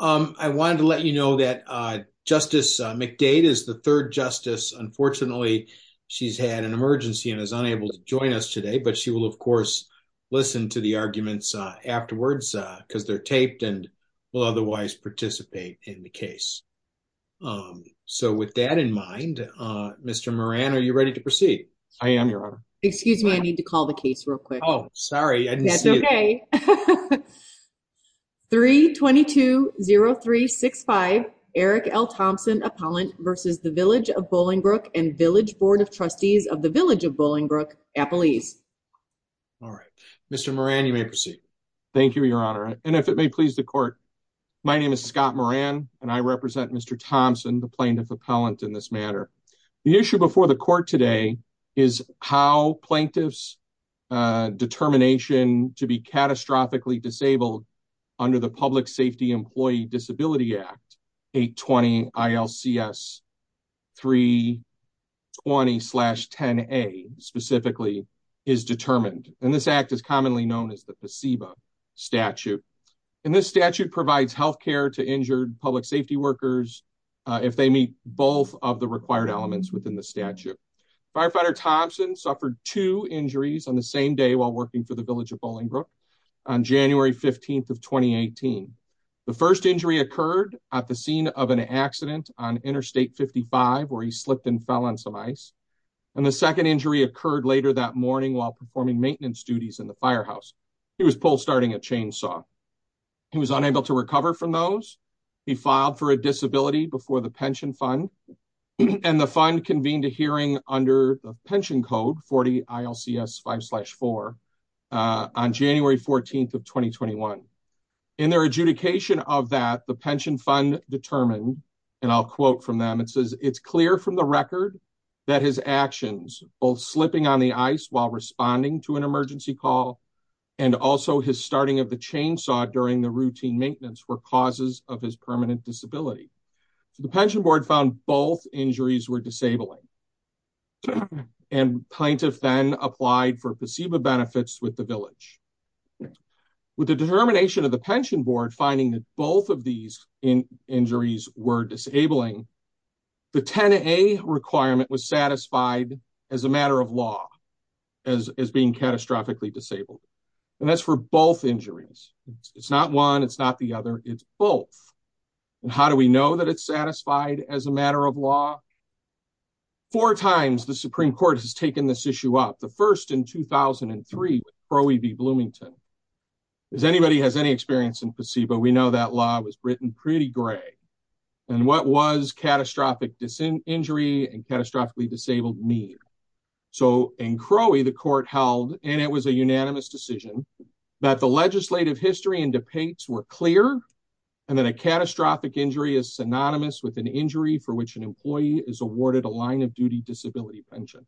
I wanted to let you know that Justice McDade is the third justice. Unfortunately, she's had an emergency and is unable to join us today, but she will, of course, listen to the arguments afterwards, because they're taped and will otherwise participate in the case. So with that in mind, Mr. Moran, are you ready to proceed? I am, Your Honor. Excuse me. I need to call the case real quick. Oh, sorry. I didn't see it. That's okay. 3-2-2-0-3-6-5 Eric L. Thompson Appellant v. the Village of Bolingbrook and Village Board of Trustees of the Village of Bolingbrook, Appelese. All right, Mr. Moran, you may proceed. Thank you, Your Honor. And if it may please the court, my name is Scott Moran and I represent Mr. Thompson, the plaintiff appellant in this matter. The issue before the court today is how plaintiff's determination to be catastrophically disabled under the Public Safety Employee Disability Act 820 ILCS 320-10A specifically is determined. And this act is commonly known as the placebo statute. And this statute provides healthcare to injured public safety workers. Uh, if they meet both of the required elements within the statute, firefighter Thompson suffered two injuries on the same day while working for the Village of Bolingbrook on January 15th of 2018, the first injury occurred at the scene of an accident on interstate 55, where he slipped and fell on some ice. And the second injury occurred later that morning while performing maintenance duties in the firehouse. He was pulled, starting a chainsaw. He was unable to recover from those. He filed for a disability before the pension fund and the fund convened a pension code 40 ILCS 5 slash 4, uh, on January 14th of 2021. In their adjudication of that, the pension fund determined. And I'll quote from them. It says it's clear from the record that his actions, both slipping on the ice while responding to an emergency call. And also his starting of the chainsaw during the routine maintenance were causes of his permanent disability. So the pension board found both injuries were disabling. And plaintiff then applied for placebo benefits with the village with the determination of the pension board, finding that both of these injuries were disabling the 10 a requirement was satisfied as a matter of law, as, as being catastrophically disabled. And that's for both injuries. It's not one. It's not the other it's both. And how do we know that it's satisfied as a matter of law? Four times. The Supreme court has taken this issue up the first in 2003, where we'd be Bloomington is anybody has any experience in placebo. We know that law was written pretty gray and what was catastrophic injury and catastrophically disabled me. So in Crowley, the court held, and it was a unanimous decision that the legislative history and debates were clear. And then a catastrophic injury is synonymous with an injury for which an employee is awarded a line of duty disability pension.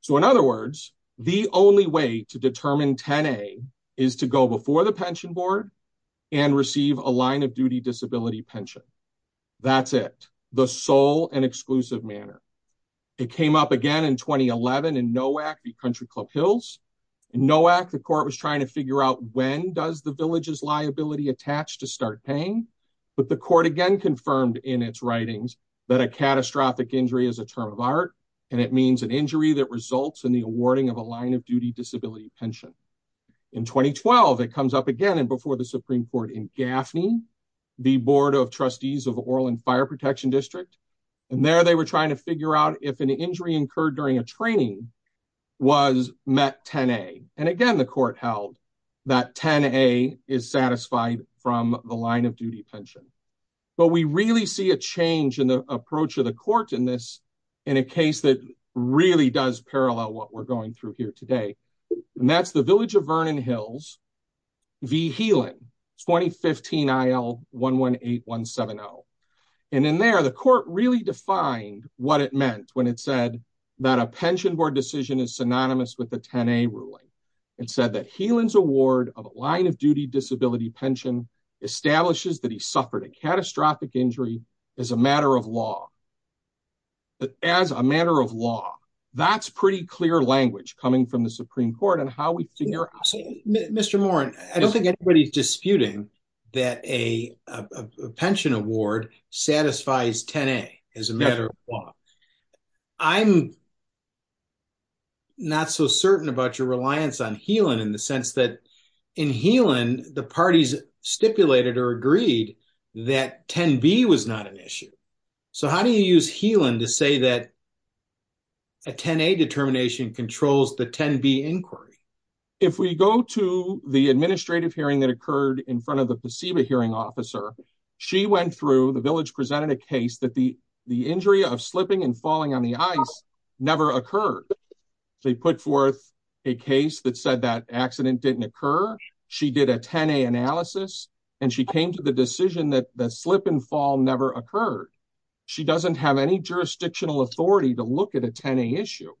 So in other words, the only way to determine 10, a is to go before the pension board and receive a line of duty disability pension. That's it. The sole and exclusive manner. It came up again in 2011 and NOAC beat country club Hills. And NOAC, the court was trying to figure out when does the villages liability attached to start paying. But the court again confirmed in its writings that a catastrophic injury is a term of art, and it means an injury that results in the awarding of a line of duty disability pension. In 2012, it comes up again. And before the Supreme court in Gaffney, the board of trustees of Orland fire protection district. And there, they were trying to figure out if an injury incurred during a training was met 10, a, and again, the court held that 10, a is from the line of duty pension. But we really see a change in the approach of the court in this, in a case that really does parallel what we're going through here today. And that's the village of Vernon Hills. The healing 2015 aisle one, one eight, one seven. Oh, and in there, the court really defined what it meant when it said that a pension board decision is synonymous with the 10, a ruling. It said that Helan's award of a line of duty disability pension establishes that he suffered a catastrophic injury as a matter of law, but as a matter of law, that's pretty clear language coming from the Supreme court on how we figure. Mr. Moran, I don't think anybody's disputing that a pension award satisfies 10, a as a matter of law. I'm not so certain about your reliance on Helan in the sense that in Helan, the parties stipulated or agreed that 10, b was not an issue, so how do you use Helan to say that a 10, a determination controls the 10, b inquiry? If we go to the administrative hearing that occurred in front of the placebo hearing officer, she went through, the village presented a case that the, the injury of slipping and falling on the ice never occurred. They put forth a case that said that accident didn't occur. She did a 10, a analysis and she came to the decision that the slip and fall never occurred. She doesn't have any jurisdictional authority to look at a 10, a issue.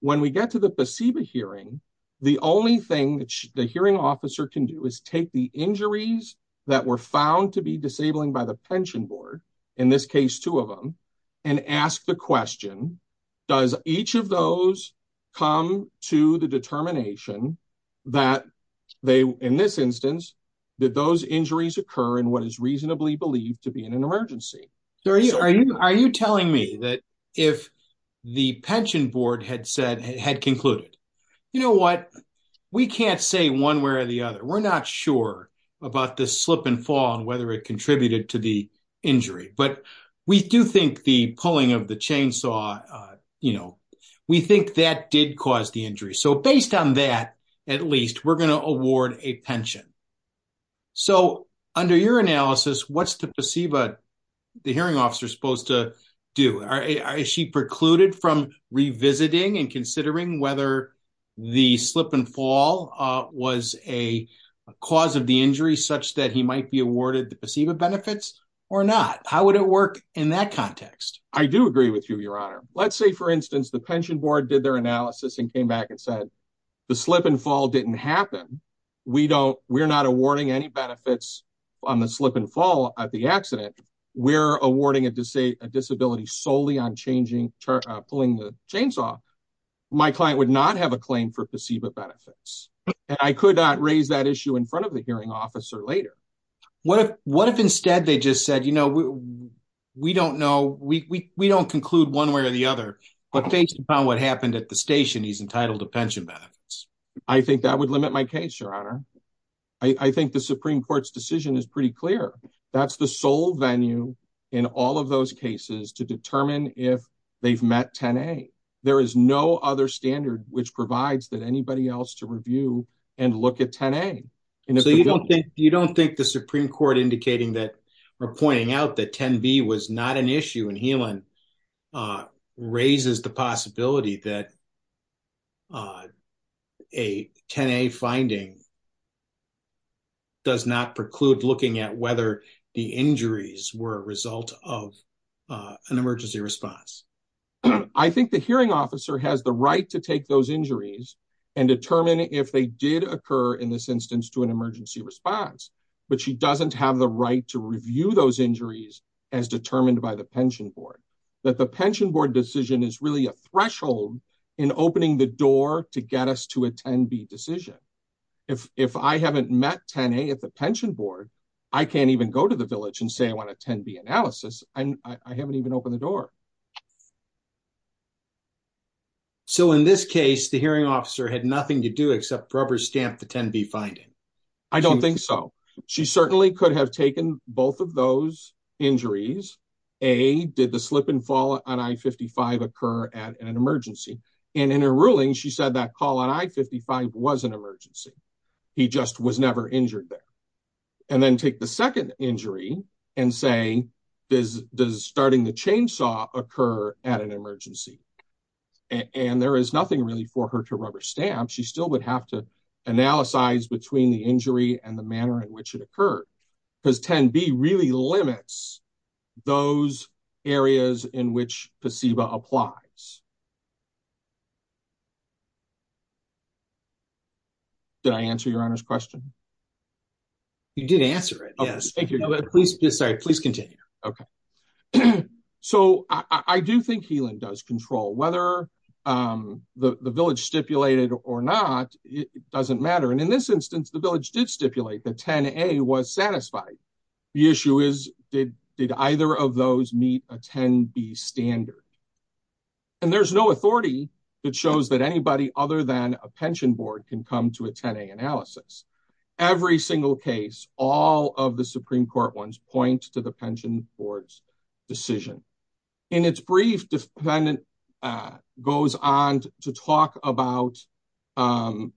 When we get to the placebo hearing, the only thing that the hearing officer can do is take the injuries that were found to be disabling by the pension board, in this case, two of them, and ask the question, does each of those come to the determination that they, in this instance, did those injuries occur in what is reasonably believed to be in an emergency? Are you telling me that if the pension board had said, had concluded, you know what, we can't say one way or the other. We're not sure about the slip and fall and whether it contributed to the injury, but we do think the pulling of the chainsaw, you know, we think that did cause the injury. So based on that, at least we're going to award a pension. So under your analysis, what's the placebo, the hearing officer supposed to do? Are she precluded from revisiting and considering whether the slip and fall was a cause of the injury such that he might be awarded the benefits or not? How would it work in that context? I do agree with you, your honor. Let's say, for instance, the pension board did their analysis and came back and said, the slip and fall didn't happen. We don't, we're not awarding any benefits on the slip and fall at the accident. We're awarding a disability solely on changing, pulling the chainsaw. My client would not have a claim for placebo benefits. And I could not raise that issue in front of the hearing officer later. What if, what if instead they just said, you know, we don't know, we don't conclude one way or the other, but based upon what happened at the station, he's entitled to pension benefits. I think that would limit my case, your honor. I think the Supreme court's decision is pretty clear. That's the sole venue in all of those cases to determine if they've met 10A. There is no other standard which provides that anybody else to review and look at 10A. And so you don't think, you don't think the Supreme court indicating that or pointing out that 10B was not an issue in Helan, uh, raises the possibility that, uh, a 10A finding does not preclude looking at whether the injuries were a result of, uh, an emergency response. I think the hearing officer has the right to take those injuries and determine if they did occur in this instance to an emergency response, but she doesn't have the right to review those injuries as determined by the pension board, that the pension board decision is really a threshold in opening the door to get us to a 10B decision. If, if I haven't met 10A at the pension board, I can't even go to the village and say, I want a 10B analysis. And I haven't even opened the door. So in this case, the hearing officer had nothing to do except rubber stamp the 10B finding. I don't think so. She certainly could have taken both of those injuries. A, did the slip and fall on I-55 occur at an emergency? And in her ruling, she said that call on I-55 was an emergency. He just was never injured there. And then take the second injury and say, does, does starting the chainsaw occur at an emergency and there is nothing really for her to rubber stamp. She still would have to analyze between the injury and the manner in which it occurred. Cause 10B really limits those areas in which placebo applies. Did I answer your honor's question? You did answer it. Yes. Please, please continue. Okay. So I do think Healan does control whether, um, the, the village stipulated or not, it doesn't matter. And in this instance, the village did stipulate the 10A was satisfied. The issue is, did, did either of those meet a 10B standard? And there's no authority that shows that anybody other than a pension board can come to a 10A analysis. Every single case, all of the Supreme court ones point to the pension board's decision and its brief defendant, uh, goes on to talk about. Um,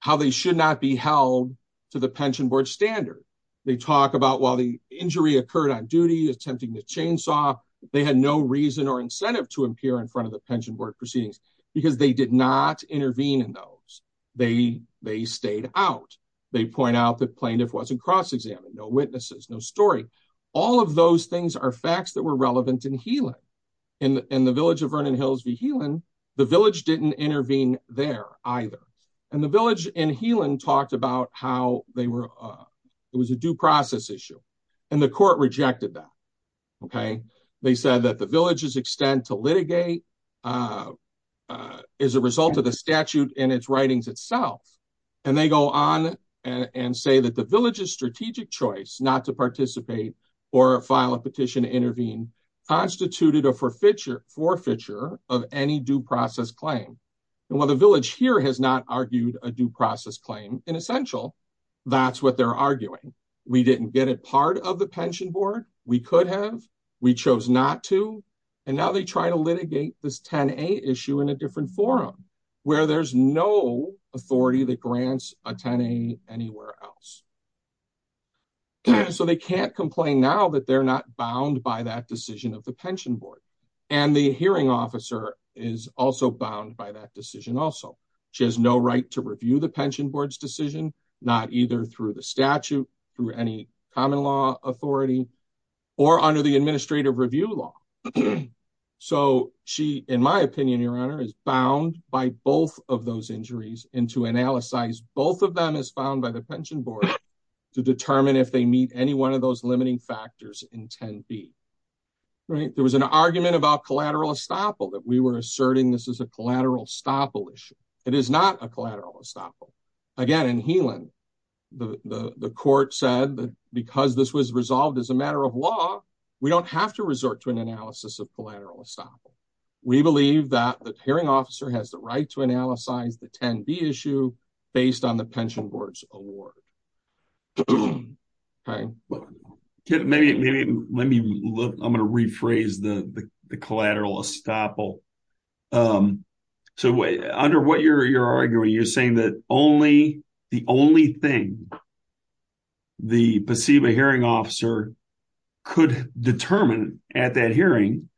how they should not be held to the pension board standard. They talk about while the injury occurred on duty, attempting the chainsaw, they had no reason or incentive to appear in front of the pension board proceedings because they did not intervene in those. They, they stayed out. They point out that plaintiff wasn't cross-examined, no witnesses, no story. All of those things are facts that were relevant in Healan. In the, in the village of Vernon Hills v. Healan, the village didn't intervene there either. And the village in Healan talked about how they were, uh, it was a due process issue and the court rejected that. Okay. They said that the village's extent to litigate, uh, uh, is a result of the statute in its writings itself. And they go on and say that the village's strategic choice not to participate or file a petition to intervene constituted a forfeiture, forfeiture of any due process claim. And while the village here has not argued a due process claim in essential, that's what they're arguing. We didn't get it part of the pension board. We could have, we chose not to. And now they try to litigate this 10A issue in a different forum where there's no authority that grants a 10A anywhere else. So they can't complain now that they're not bound by that decision of the pension board and the hearing officer is also bound by that decision also. She has no right to review the pension board's decision, not either through the statute, through any common law authority or under the administrative review law. So she, in my opinion, your honor is bound by both of those injuries and to determine if they meet any one of those limiting factors in 10B, right? There was an argument about collateral estoppel that we were asserting. This is a collateral estoppel issue. It is not a collateral estoppel. Again, in Helan, the court said that because this was resolved as a matter of law, we don't have to resort to an analysis of collateral estoppel. We believe that the hearing officer has the right to analyze the 10B issue based on the pension board's award. Let me look, I'm going to rephrase the collateral estoppel. So under what you're arguing, you're saying that only the only thing the placebo hearing officer could determine at that hearing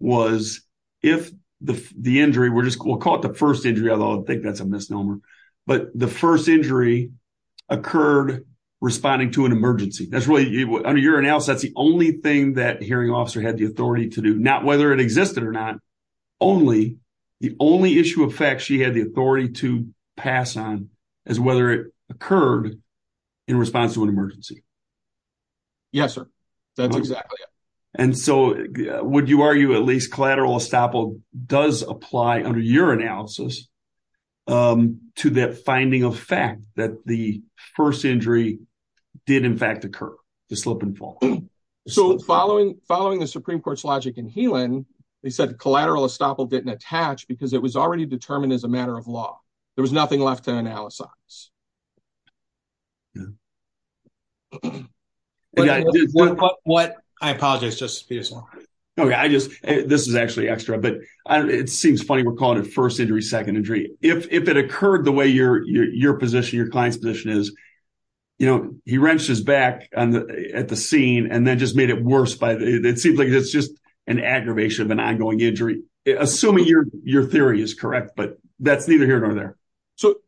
was if the injury, we'll call it the first injury, although I think that's a misnomer, but the first injury occurred responding to an emergency. That's really, under your analysis, that's the only thing that hearing officer had the authority to do. Not whether it existed or not, only the only issue of facts she had the authority to pass on as whether it occurred in response to an emergency. Yes, sir. That's exactly it. And so would you argue at least collateral estoppel does apply under your analysis to that finding of fact that the first injury did in fact occur, the slip and fall? So following the Supreme Court's logic in Healand, they said collateral estoppel didn't attach because it was already determined as a matter of law. There was nothing left to analyze. I apologize, Justice Peterson. This is actually extra, but it seems funny. We're calling it first injury, second injury. If it occurred the way your position, your client's position is, you know, he wrenched his back at the scene and then just made it worse by, it seems like it's just an aggravation of an ongoing injury, assuming your theory is correct, but that's neither here nor there.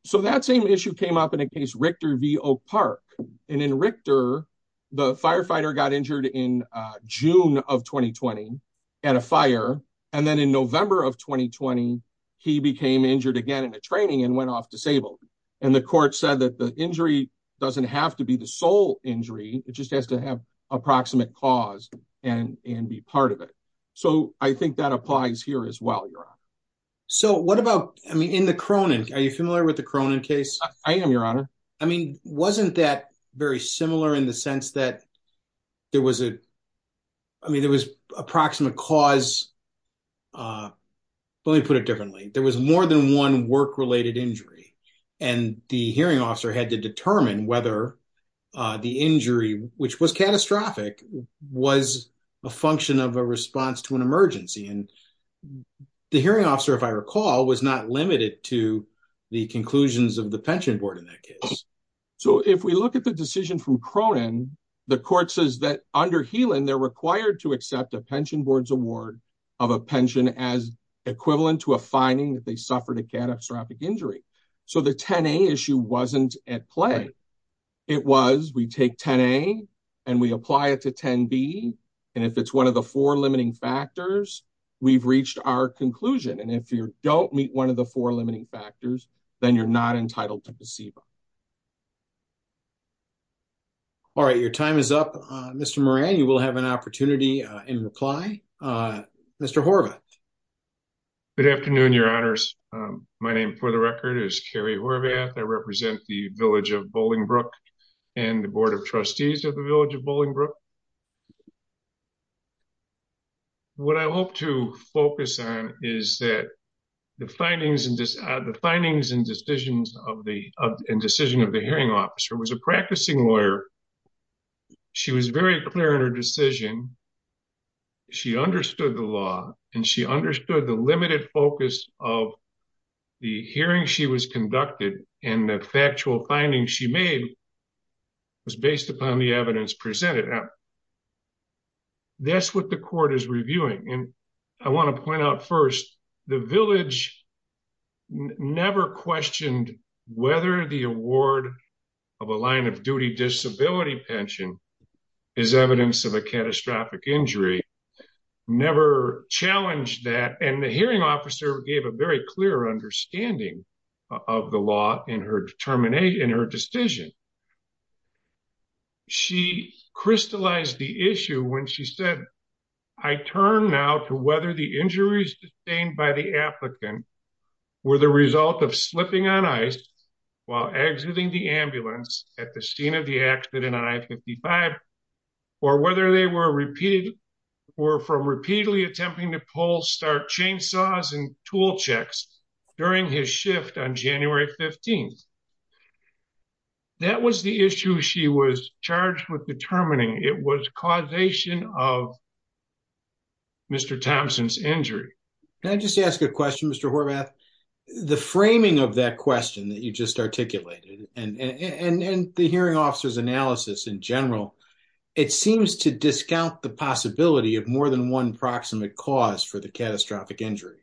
So that same issue came up in a case, Richter v. Oak Park, and in Richter, the firefighter got injured in June of 2020 at a fire. And then in November of 2020, he became injured again in the training and went off disabled. And the court said that the injury doesn't have to be the sole injury. It just has to have approximate cause and be part of it. So I think that applies here as well, Your Honor. So what about, I mean, in the Cronin, are you familiar with the Cronin case? I am, Your Honor. I mean, wasn't that very similar in the sense that there was a, I mean, there was approximate cause, but let me put it differently. There was more than one work-related injury and the hearing officer had to determine whether the injury, which was catastrophic, was a function of a response to an emergency. And the hearing officer, if I recall, was not limited to the conclusions of the pension board in that case. So if we look at the decision from Cronin, the court says that under the Cronin case, the pension board was not limited to the four limiting factors. And if it's one of the four limiting factors, we've reached our conclusion. And if you don't meet one of the four limiting factors, then you're not entitled to placebo. All right. Your time is up, Mr. Thank you. Thank you. Thank you. Thank you. Thank you. Thank you. Thank you. Thank you. In reply, Mr. Horvath. Good afternoon, your honors. My name for the record is Kerry Horvath. I represent the village of Bolingbrook and the board of trustees of the village of Bolingbrook. What I hope to focus on is that the findings and decisions of the, in decision of the hearing officer was a practicing lawyer, she was very clear in her decision, she understood the law and she understood the limited focus of the hearing she was conducted and the factual findings she made was based upon the evidence presented. That's what the court is reviewing. And I want to point out first, the village never questioned whether the evidence of a catastrophic injury never challenged that. And the hearing officer gave a very clear understanding of the law in her determination, in her decision. She crystallized the issue when she said, I turn now to whether the injuries sustained by the applicant were the result of slipping on ice while exiting the ambulance at the scene of the accident on I-55 or whether they were repeated or from repeatedly attempting to pull, start chainsaws and tool checks during his shift on January 15th. That was the issue she was charged with determining. It was causation of Mr. Thompson's injury. Can I just ask a question, Mr. And the hearing officer's analysis in general, it seems to discount the possibility of more than one proximate cause for the catastrophic injury.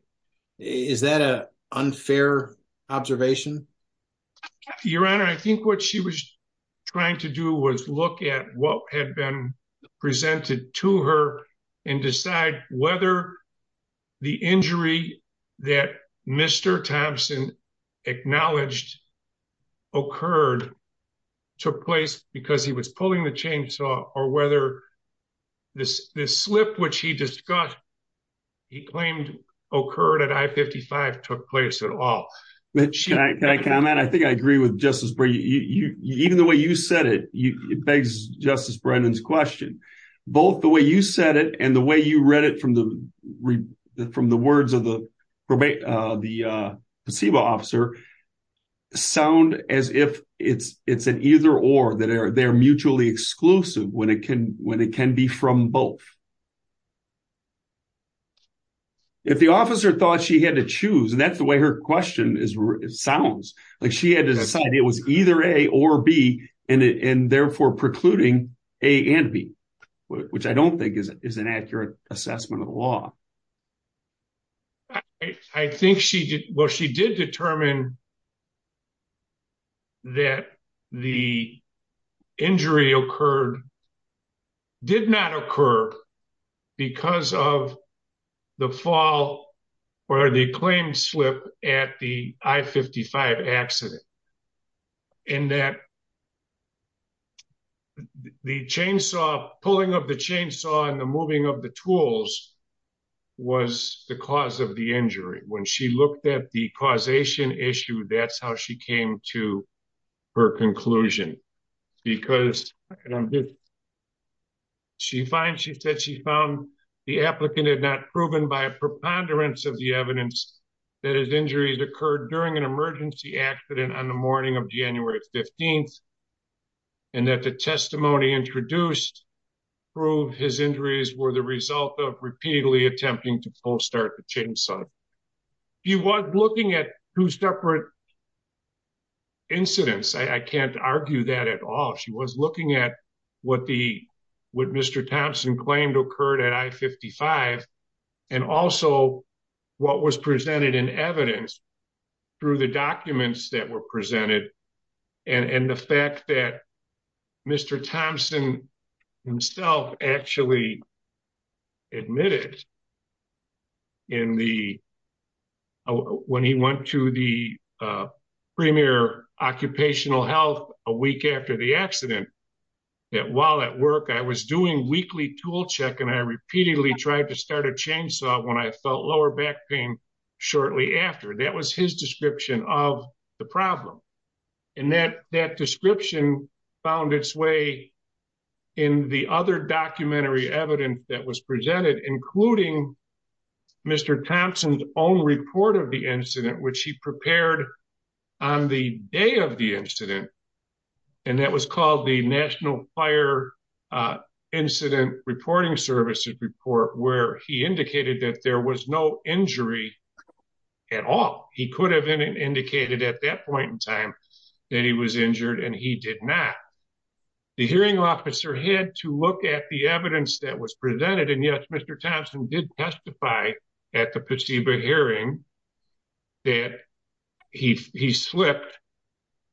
Is that a unfair observation? Your Honor, I think what she was trying to do was look at what had been presented to her and decide whether the injury that Mr. Thompson acknowledged occurred, took place because he was pulling the chainsaw or whether this slip, which he discussed, he claimed occurred at I-55, took place at all. Can I comment? I think I agree with Justice Brennan, even the way you said it, it begs Justice Brennan's question. Both the way you said it and the way you read it from the words of the placebo officer sound as if it's an either or, that they're mutually exclusive when it can be from both. If the officer thought she had to choose, and that's the way her question sounds, like she had to decide it was either A or B and therefore precluding A and B. Which I don't think is an accurate assessment of the law. I think she did. Well, she did determine that the injury occurred, did not occur because of the fall or the claimed slip at the I-55 accident and that the chainsaw pulling of the chainsaw and the moving of the tools was the cause of the injury. When she looked at the causation issue, that's how she came to her conclusion. Because she finds, she said she found the applicant had not proven by a preponderance of the evidence that his injuries occurred during an emergency accident on the morning of January 15th. And that the testimony introduced proved his injuries were the result of repeatedly attempting to pull start the chainsaw. She was looking at two separate incidents. I can't argue that at all. She was looking at what the, what Mr. Thompson claimed occurred at I-55 and also what was presented in evidence through the documents that were presented. And the fact that Mr. Thompson himself actually admitted in the, when he went to the premier occupational health a week after the accident, that while at work I was doing weekly tool check and I repeatedly tried to start a chainsaw when I felt lower back pain shortly after. That was his description of the problem. And that, that description found its way in the other documentary evidence that was presented, including Mr. Thompson's own report of the incident, which he prepared on the day of the incident, and that was called the National Fire Incident Reporting Services report, where he indicated that there was no injury at all. He could have been indicated at that point in time that he was injured and he did not. The hearing officer had to look at the evidence that was presented. And yes, Mr. Thompson did testify at the placebo hearing that he, he slipped,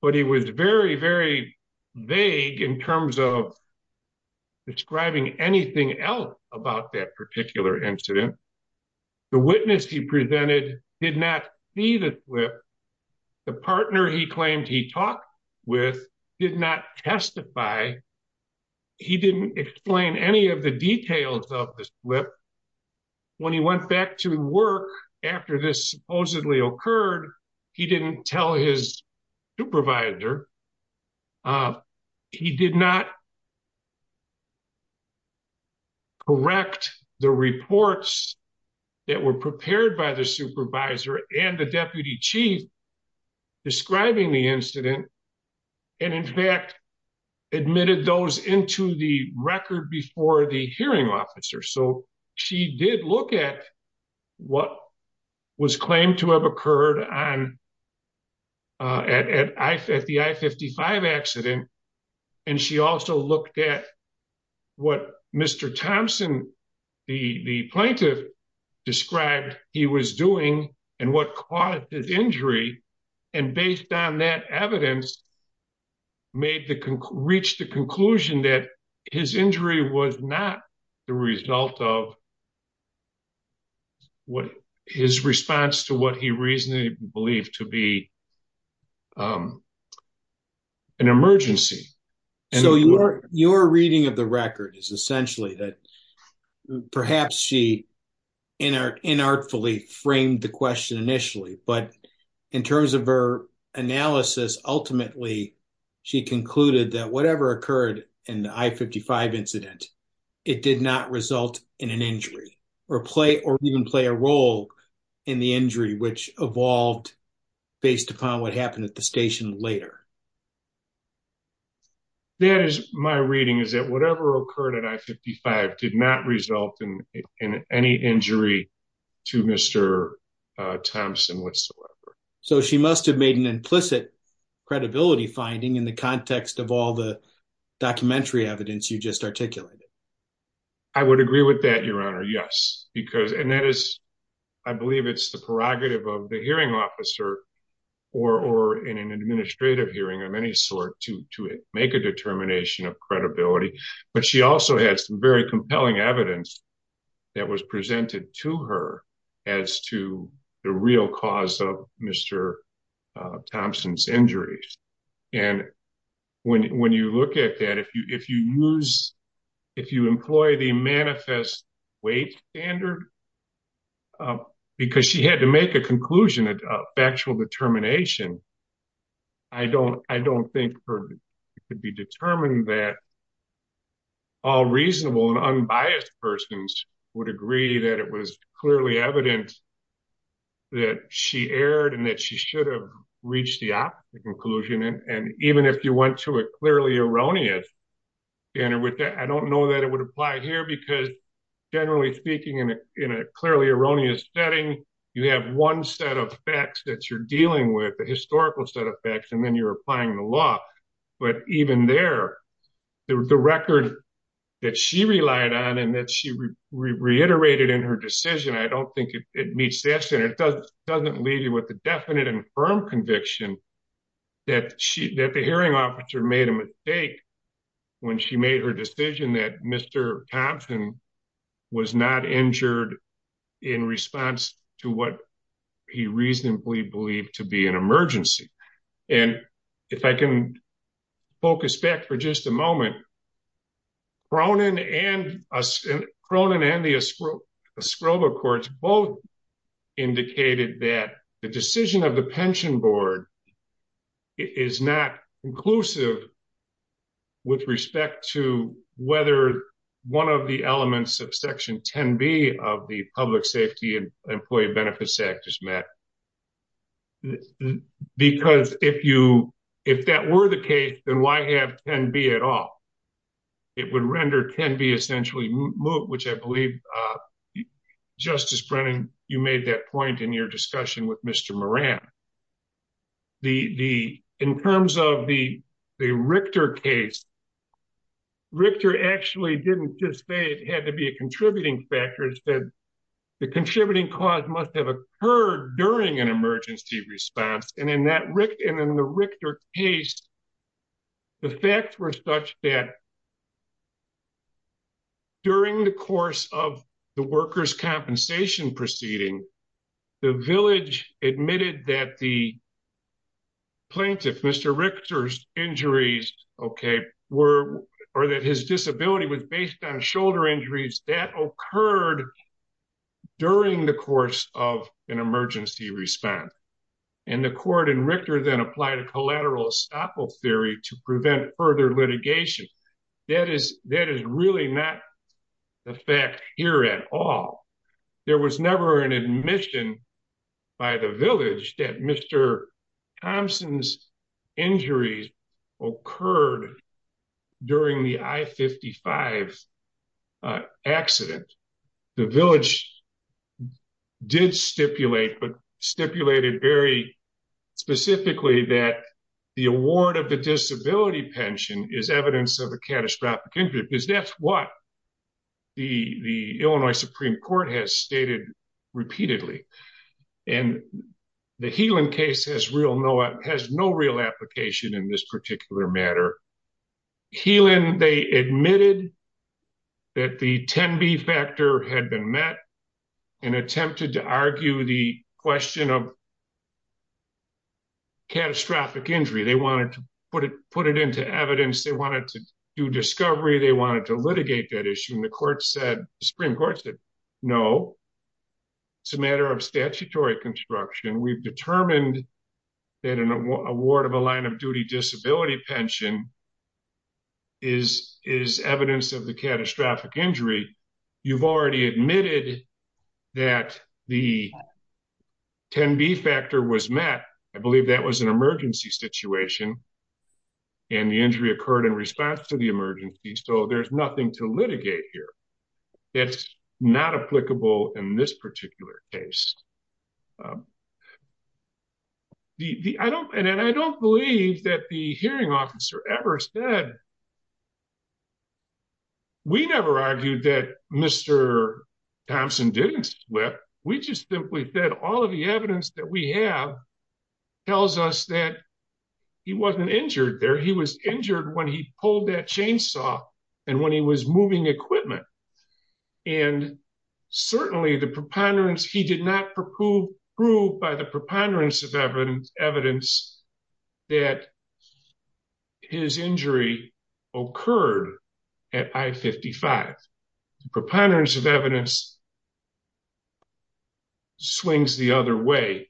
but he was very, very vague in terms of describing anything else about that particular incident. The witness he presented did not see the slip. The partner he claimed he talked with did not testify. He didn't explain any of the details of the slip. When he went back to work after this supposedly occurred, he didn't tell his supervisor, he did not correct the reports that were prepared by the supervisor and the deputy chief describing the incident and in fact admitted those into the record before the hearing officer. So she did look at what was claimed to have occurred on, at the I-55 accident. And she also looked at what Mr. Thompson, the plaintiff described he was doing and what caused his injury. And based on that evidence made the, reached the conclusion that his injury was not the result of what his response to what he reasonably believed to be an emergency. So your reading of the record is essentially that perhaps she in art, in artfully framed the question initially, but in terms of her analysis, ultimately she concluded that whatever occurred in the I-55 incident, it did not result in an injury or play or even play a role in the injury, which evolved based upon what happened at the station later. That is my reading is that whatever occurred at I-55 did not result in any injury to Mr. Thompson whatsoever. So she must've made an implicit credibility finding in the context of all the documentary evidence you just articulated. I would agree with that, your honor. Yes, because, and that is, I believe it's the prerogative of the hearing officer or, or in an administrative hearing of any sort to, to make a determination of credibility, but she also had some very compelling evidence that was presented to her as to the real cause of Mr. Thompson's injuries. And when, when you look at that, if you, if you use, if you employ the manifest weight standard, because she had to make a conclusion, a factual determination, I don't, I don't think it could be determined that all reasonable and clearly evident that she erred and that she should have reached the opposite conclusion. And even if you went to a clearly erroneous standard with that, I don't know that it would apply here because generally speaking in a, in a clearly erroneous setting, you have one set of facts that you're dealing with, a historical set of facts, and then you're applying the law. But even there, the record that she relied on and that she reiterated in her decision, I don't think it meets that standard. It doesn't leave you with a definite and firm conviction that she, that the hearing officer made a mistake when she made her decision that Mr. Thompson was not injured in response to what he reasonably believed to be an emergency. And if I can focus back for just a moment, Cronin and, Cronin and the Stroba courts both indicated that the decision of the pension board is not inclusive with respect to whether one of the elements of section 10B of the public safety and employee benefits act is met. Because if you, if that were the case, then why have 10B at all? It would render 10B essentially moot, which I believe Justice Brennan, you made that point in your discussion with Mr. Moran. The, the, in terms of the Richter case, Richter actually didn't just say it had to be a contributing factor. It said the contributing cause must have occurred during an emergency response. And in that Rick and in the Richter case, the facts were such that during the course of the workers' compensation proceeding, the village admitted that the plaintiff, Mr. Richter's injuries, okay, were, or that his disability was based on shoulder injuries that occurred during the course of an emergency response. And the court in Richter then applied a collateral estoppel theory to prevent further litigation. That is, that is really not the fact here at all. There was never an admission by the village that Mr. Thompson's injuries occurred during the I-55 accident. The village did stipulate, but stipulated very specifically that the award of the disability pension is evidence of a catastrophic injury because that's what the, the Illinois Supreme Court has stated repeatedly. And the Healan case has no real application in this particular matter. Healan, they admitted that the 10B factor had been met and attempted to argue the question of catastrophic injury. They wanted to put it, put it into evidence. They wanted to do discovery. They wanted to litigate that issue. And the court said, the Supreme Court said, no, it's a matter of statutory construction. We've determined that an award of a line of duty disability pension is, is evidence of the catastrophic injury. You've already admitted that the 10B factor was met. I believe that was an emergency situation and the injury occurred in response to the emergency. So there's nothing to litigate here. That's not applicable in this particular case. Um, the, the, I don't, and I don't believe that the hearing officer ever said, we never argued that Mr. Thompson didn't slip. We just simply said all of the evidence that we have tells us that he wasn't injured there. He was injured when he pulled that chainsaw and when he was moving equipment. And certainly the preponderance, he did not prove, prove by the preponderance of evidence, evidence that his injury occurred at I-55. The preponderance of evidence swings the other way,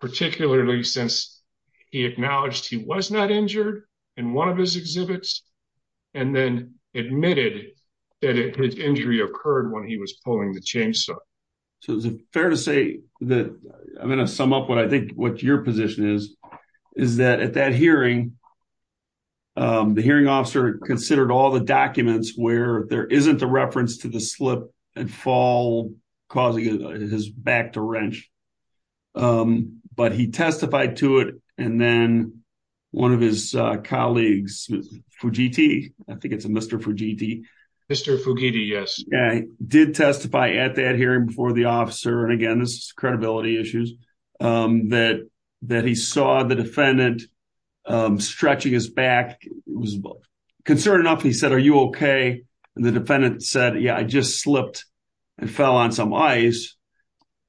particularly since he acknowledged he was not injured in one of his exhibits and then admitted that his injury occurred when he was pulling the chainsaw. So is it fair to say that, I'm going to sum up what I think what your position is, is that at that hearing, um, the hearing officer considered all the documents where there isn't a reference to the slip and fall causing his back to wrench, um, but he testified to it. And then one of his colleagues, Fujiti, I think it's a Mr. Fujiti. Mr. Fujiti. Yes. Yeah, he did testify at that hearing before the officer. And again, this is credibility issues, um, that, that he saw the defendant, um, stretching his back. It was concerning enough. And he said, are you okay? And the defendant said, yeah, I just slipped and fell on some ice.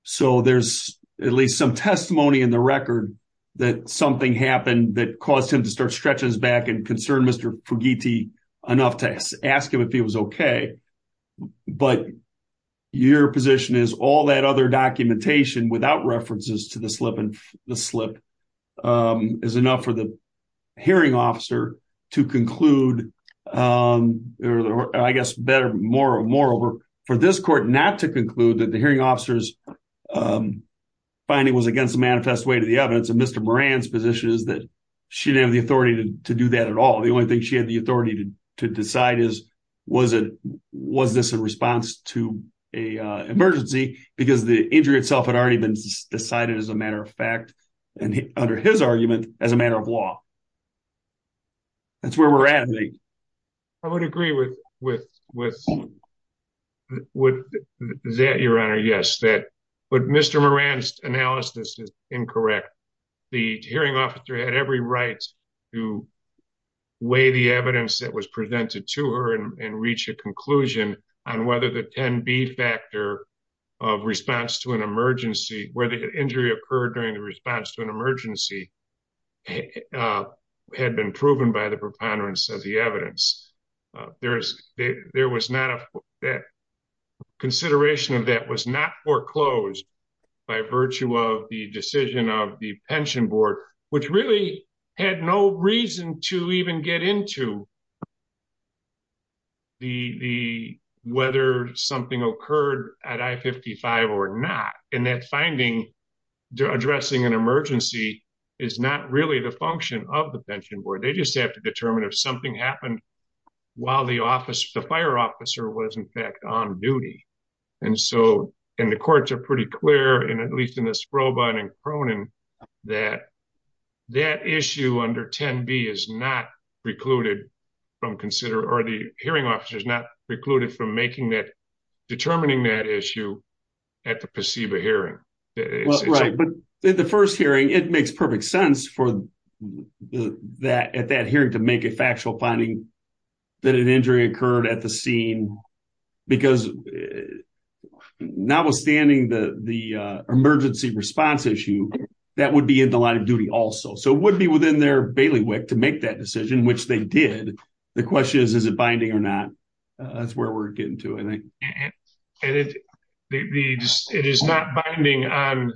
So there's at least some testimony in the record that something happened that caused him to start stretching his back and concerned Mr. Fujiti enough to ask him if he was okay. But your position is all that other documentation without references to the slip and the slip, um, is enough for the hearing officer to conclude, um, or I guess better, more, moreover for this court not to conclude that the hearing officer's, um, finding was against the manifest way to the evidence. And Mr. Moran's position is that she didn't have the authority to do that at all. The only thing she had the authority to decide is, was it, was this a response to a, uh, emergency because the injury itself had already been decided as a matter of fact, and under his argument as a matter of law, that's where we're at. I would agree with, with, with that, your Honor. Yes. That, but Mr. Moran's analysis is incorrect. The hearing officer had every right to weigh the evidence that was presented to her and reach a conclusion on whether the 10 B factor of response to an emergency where the injury occurred during the response to an emergency, uh, had been proven by the preponderance of the evidence. Uh, there's, there was not a, that consideration of that was not foreclosed by virtue of the decision of the pension board, which really had no reason to even get into the, the, whether something occurred at I-55 or not. And that finding addressing an emergency is not really the function of the pension board. They just have to determine if something happened while the office, the fire officer was in fact on duty. And so, and the courts are pretty clear in, at least in the Sprobine and Cronin, that that issue under 10 B is not precluded from consider, or the hearing officer is not precluded from making that, determining that issue at the placebo hearing. Right. But the first hearing, it makes perfect sense for that, at that hearing to make a factual finding that an injury occurred at the scene, because not withstanding the, the, uh, emergency response issue that would be in the line of duty also, so it would be within their bailiwick to make that decision, which they did, the question is, is it binding or not? Uh, that's where we're getting to. I think it is not binding on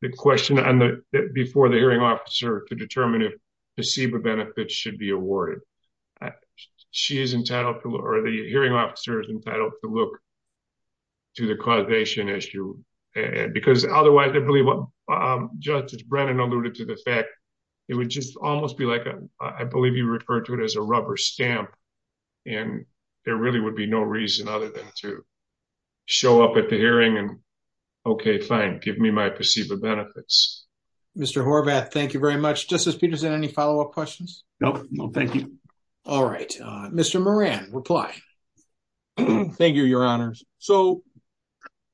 the question on the, before the hearing officer to determine if placebo benefits should be awarded. She is entitled to, or the hearing officer is entitled to look to the causation issue because otherwise I believe what, um, Justice Brennan alluded to the fact it would just almost be like a, I believe you refer to it as a rubber stamp. And there really would be no reason other than to show up at the hearing and, okay, fine, give me my placebo benefits. Mr. Horvath. Thank you very much. Justice Peterson. Any followup questions? Nope. No, thank you. All right. Uh, Mr. Moran reply. Thank you, your honors. So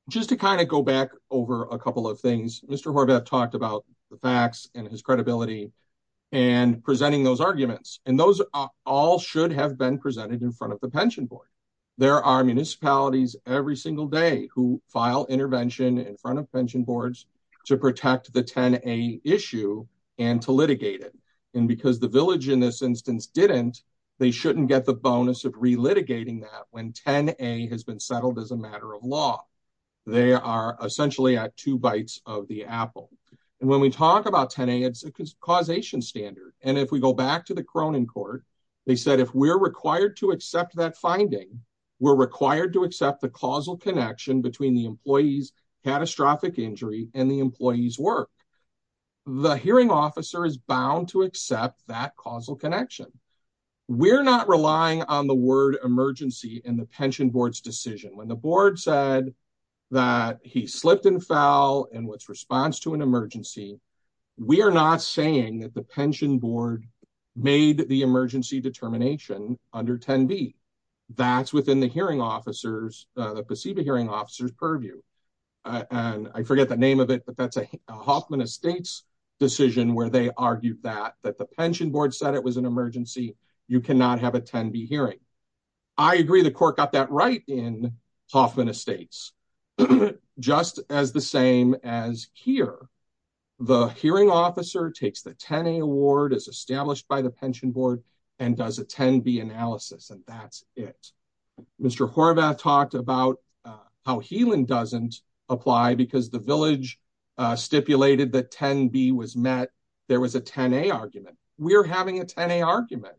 just to kind of go back over a couple of things, Mr. Horvath talked about the facts and his credibility and presenting those arguments and those are all should have been presented in front of the pension board, there are municipalities every single day who file intervention in protect the 10, a issue and to litigate it. And because the village in this instance, didn't they shouldn't get the bonus of relitigating that when 10 a has been settled as a matter of law. They are essentially at two bites of the apple. And when we talk about 10, a it's a causation standard. And if we go back to the Cronin court, they said, if we're required to accept that finding, we're required to accept the causal connection between the work. The hearing officer is bound to accept that causal connection. We're not relying on the word emergency in the pension board's decision. When the board said that he slipped and fell and what's response to an emergency. We are not saying that the pension board made the emergency determination under 10 B. That's within the hearing officers, the placebo hearing officers purview. And I forget the name of it, but that's a Hoffman estates decision where they argued that, that the pension board said it was an emergency. You cannot have a 10 B hearing. I agree. The court got that right in Hoffman estates, just as the same as here. The hearing officer takes the 10 a award as established by the pension board and does a 10 B analysis. And that's it. Mr. Horvath talked about how healing doesn't apply because the village stipulated that 10 B was met. There was a 10 a argument. We're having a 10 a argument.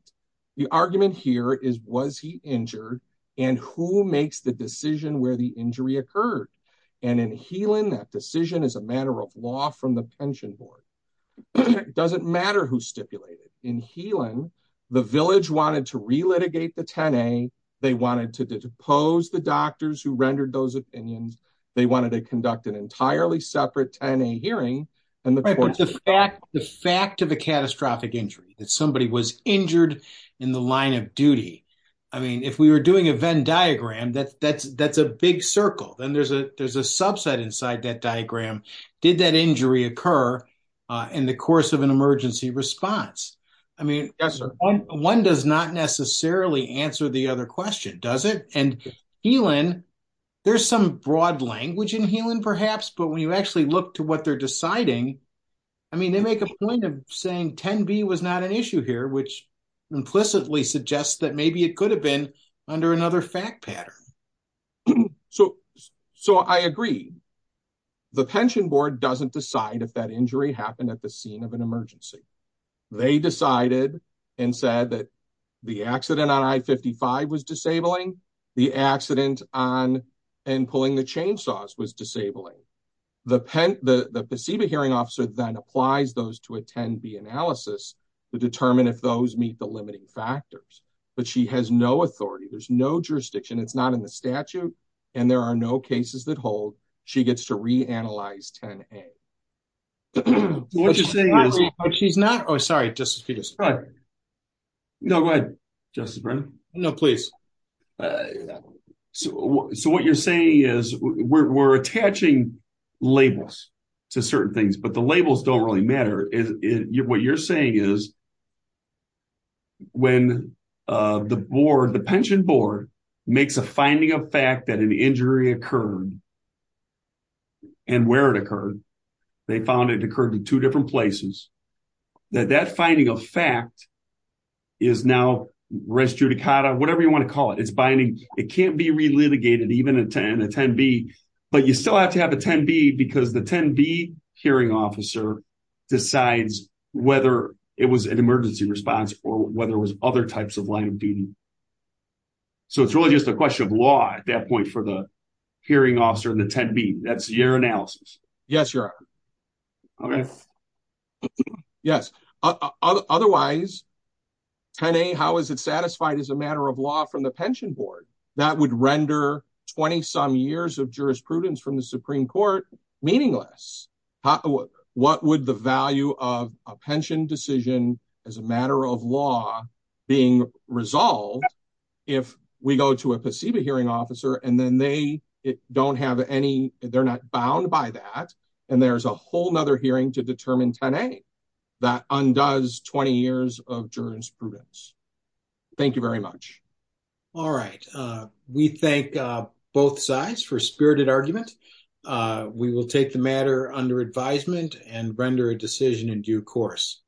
The argument here is, was he injured and who makes the decision where the injury occurred and in healing that decision is a matter of law from the pension board. It doesn't matter who stipulated in healing. The village wanted to relitigate the 10 a. They wanted to depose the doctors who rendered those opinions. They wanted to conduct an entirely separate 10 a hearing and the fact, the fact of a catastrophic injury that somebody was injured in the line of duty. I mean, if we were doing a Venn diagram, that's, that's, that's a big circle. Then there's a, there's a subset inside that diagram. Did that injury occur in the course of an emergency response? I mean, one does not necessarily answer the other question. Does it? And there's some broad language in healing perhaps, but when you actually look to what they're deciding, I mean, they make a point of saying 10 B was not an issue here, which implicitly suggests that maybe it could have been under another fact pattern. So, so I agree. The pension board doesn't decide if that injury happened at the scene of an emergency. They decided and said that the accident on I 55 was disabling the accident on and pulling the chainsaws was disabling the pen. The, the placebo hearing officer then applies those to attend the analysis to determine if those meet the limiting factors, but she has no authority. There's no jurisdiction. It's not in the statute and there are no cases that hold. She gets to reanalyze 10 a. What you're saying is she's not, oh, sorry. Just to be discreet. No, go ahead. Justice Brennan. No, please. So, so what you're saying is we're, we're attaching labels to certain things, but the labels don't really matter. Is it what you're saying is when the board, the pension board makes a finding of fact that an injury occurred and where it occurred, they found it occurred in two different places. That that finding of fact is now restricted, whatever you want to call it. It's binding. It can't be relitigated, even a 10, a 10 B. But you still have to have a 10 B because the 10 B hearing officer decides whether it was an emergency response or whether it was other types of line of duty. So it's really just a question of law at that point for the hearing officer and the 10 B that's your analysis. Yes, Your Honor. Okay. Yes. Otherwise, 10 a, how is it satisfied as a matter of law from the pension board that would render 20 some years of jurisprudence from the Supreme court? Meaningless. What would the value of a pension decision as a matter of law being resolved? If we go to a placebo hearing officer and then they don't have any, they're not bound by that. And there's a whole nother hearing to determine 10 a that undoes 20 years of jurisprudence. Thank you very much. All right. Uh, we thank, uh, both sides for spirited argument. Uh, we will take the matter under advisement and render a decision in due course.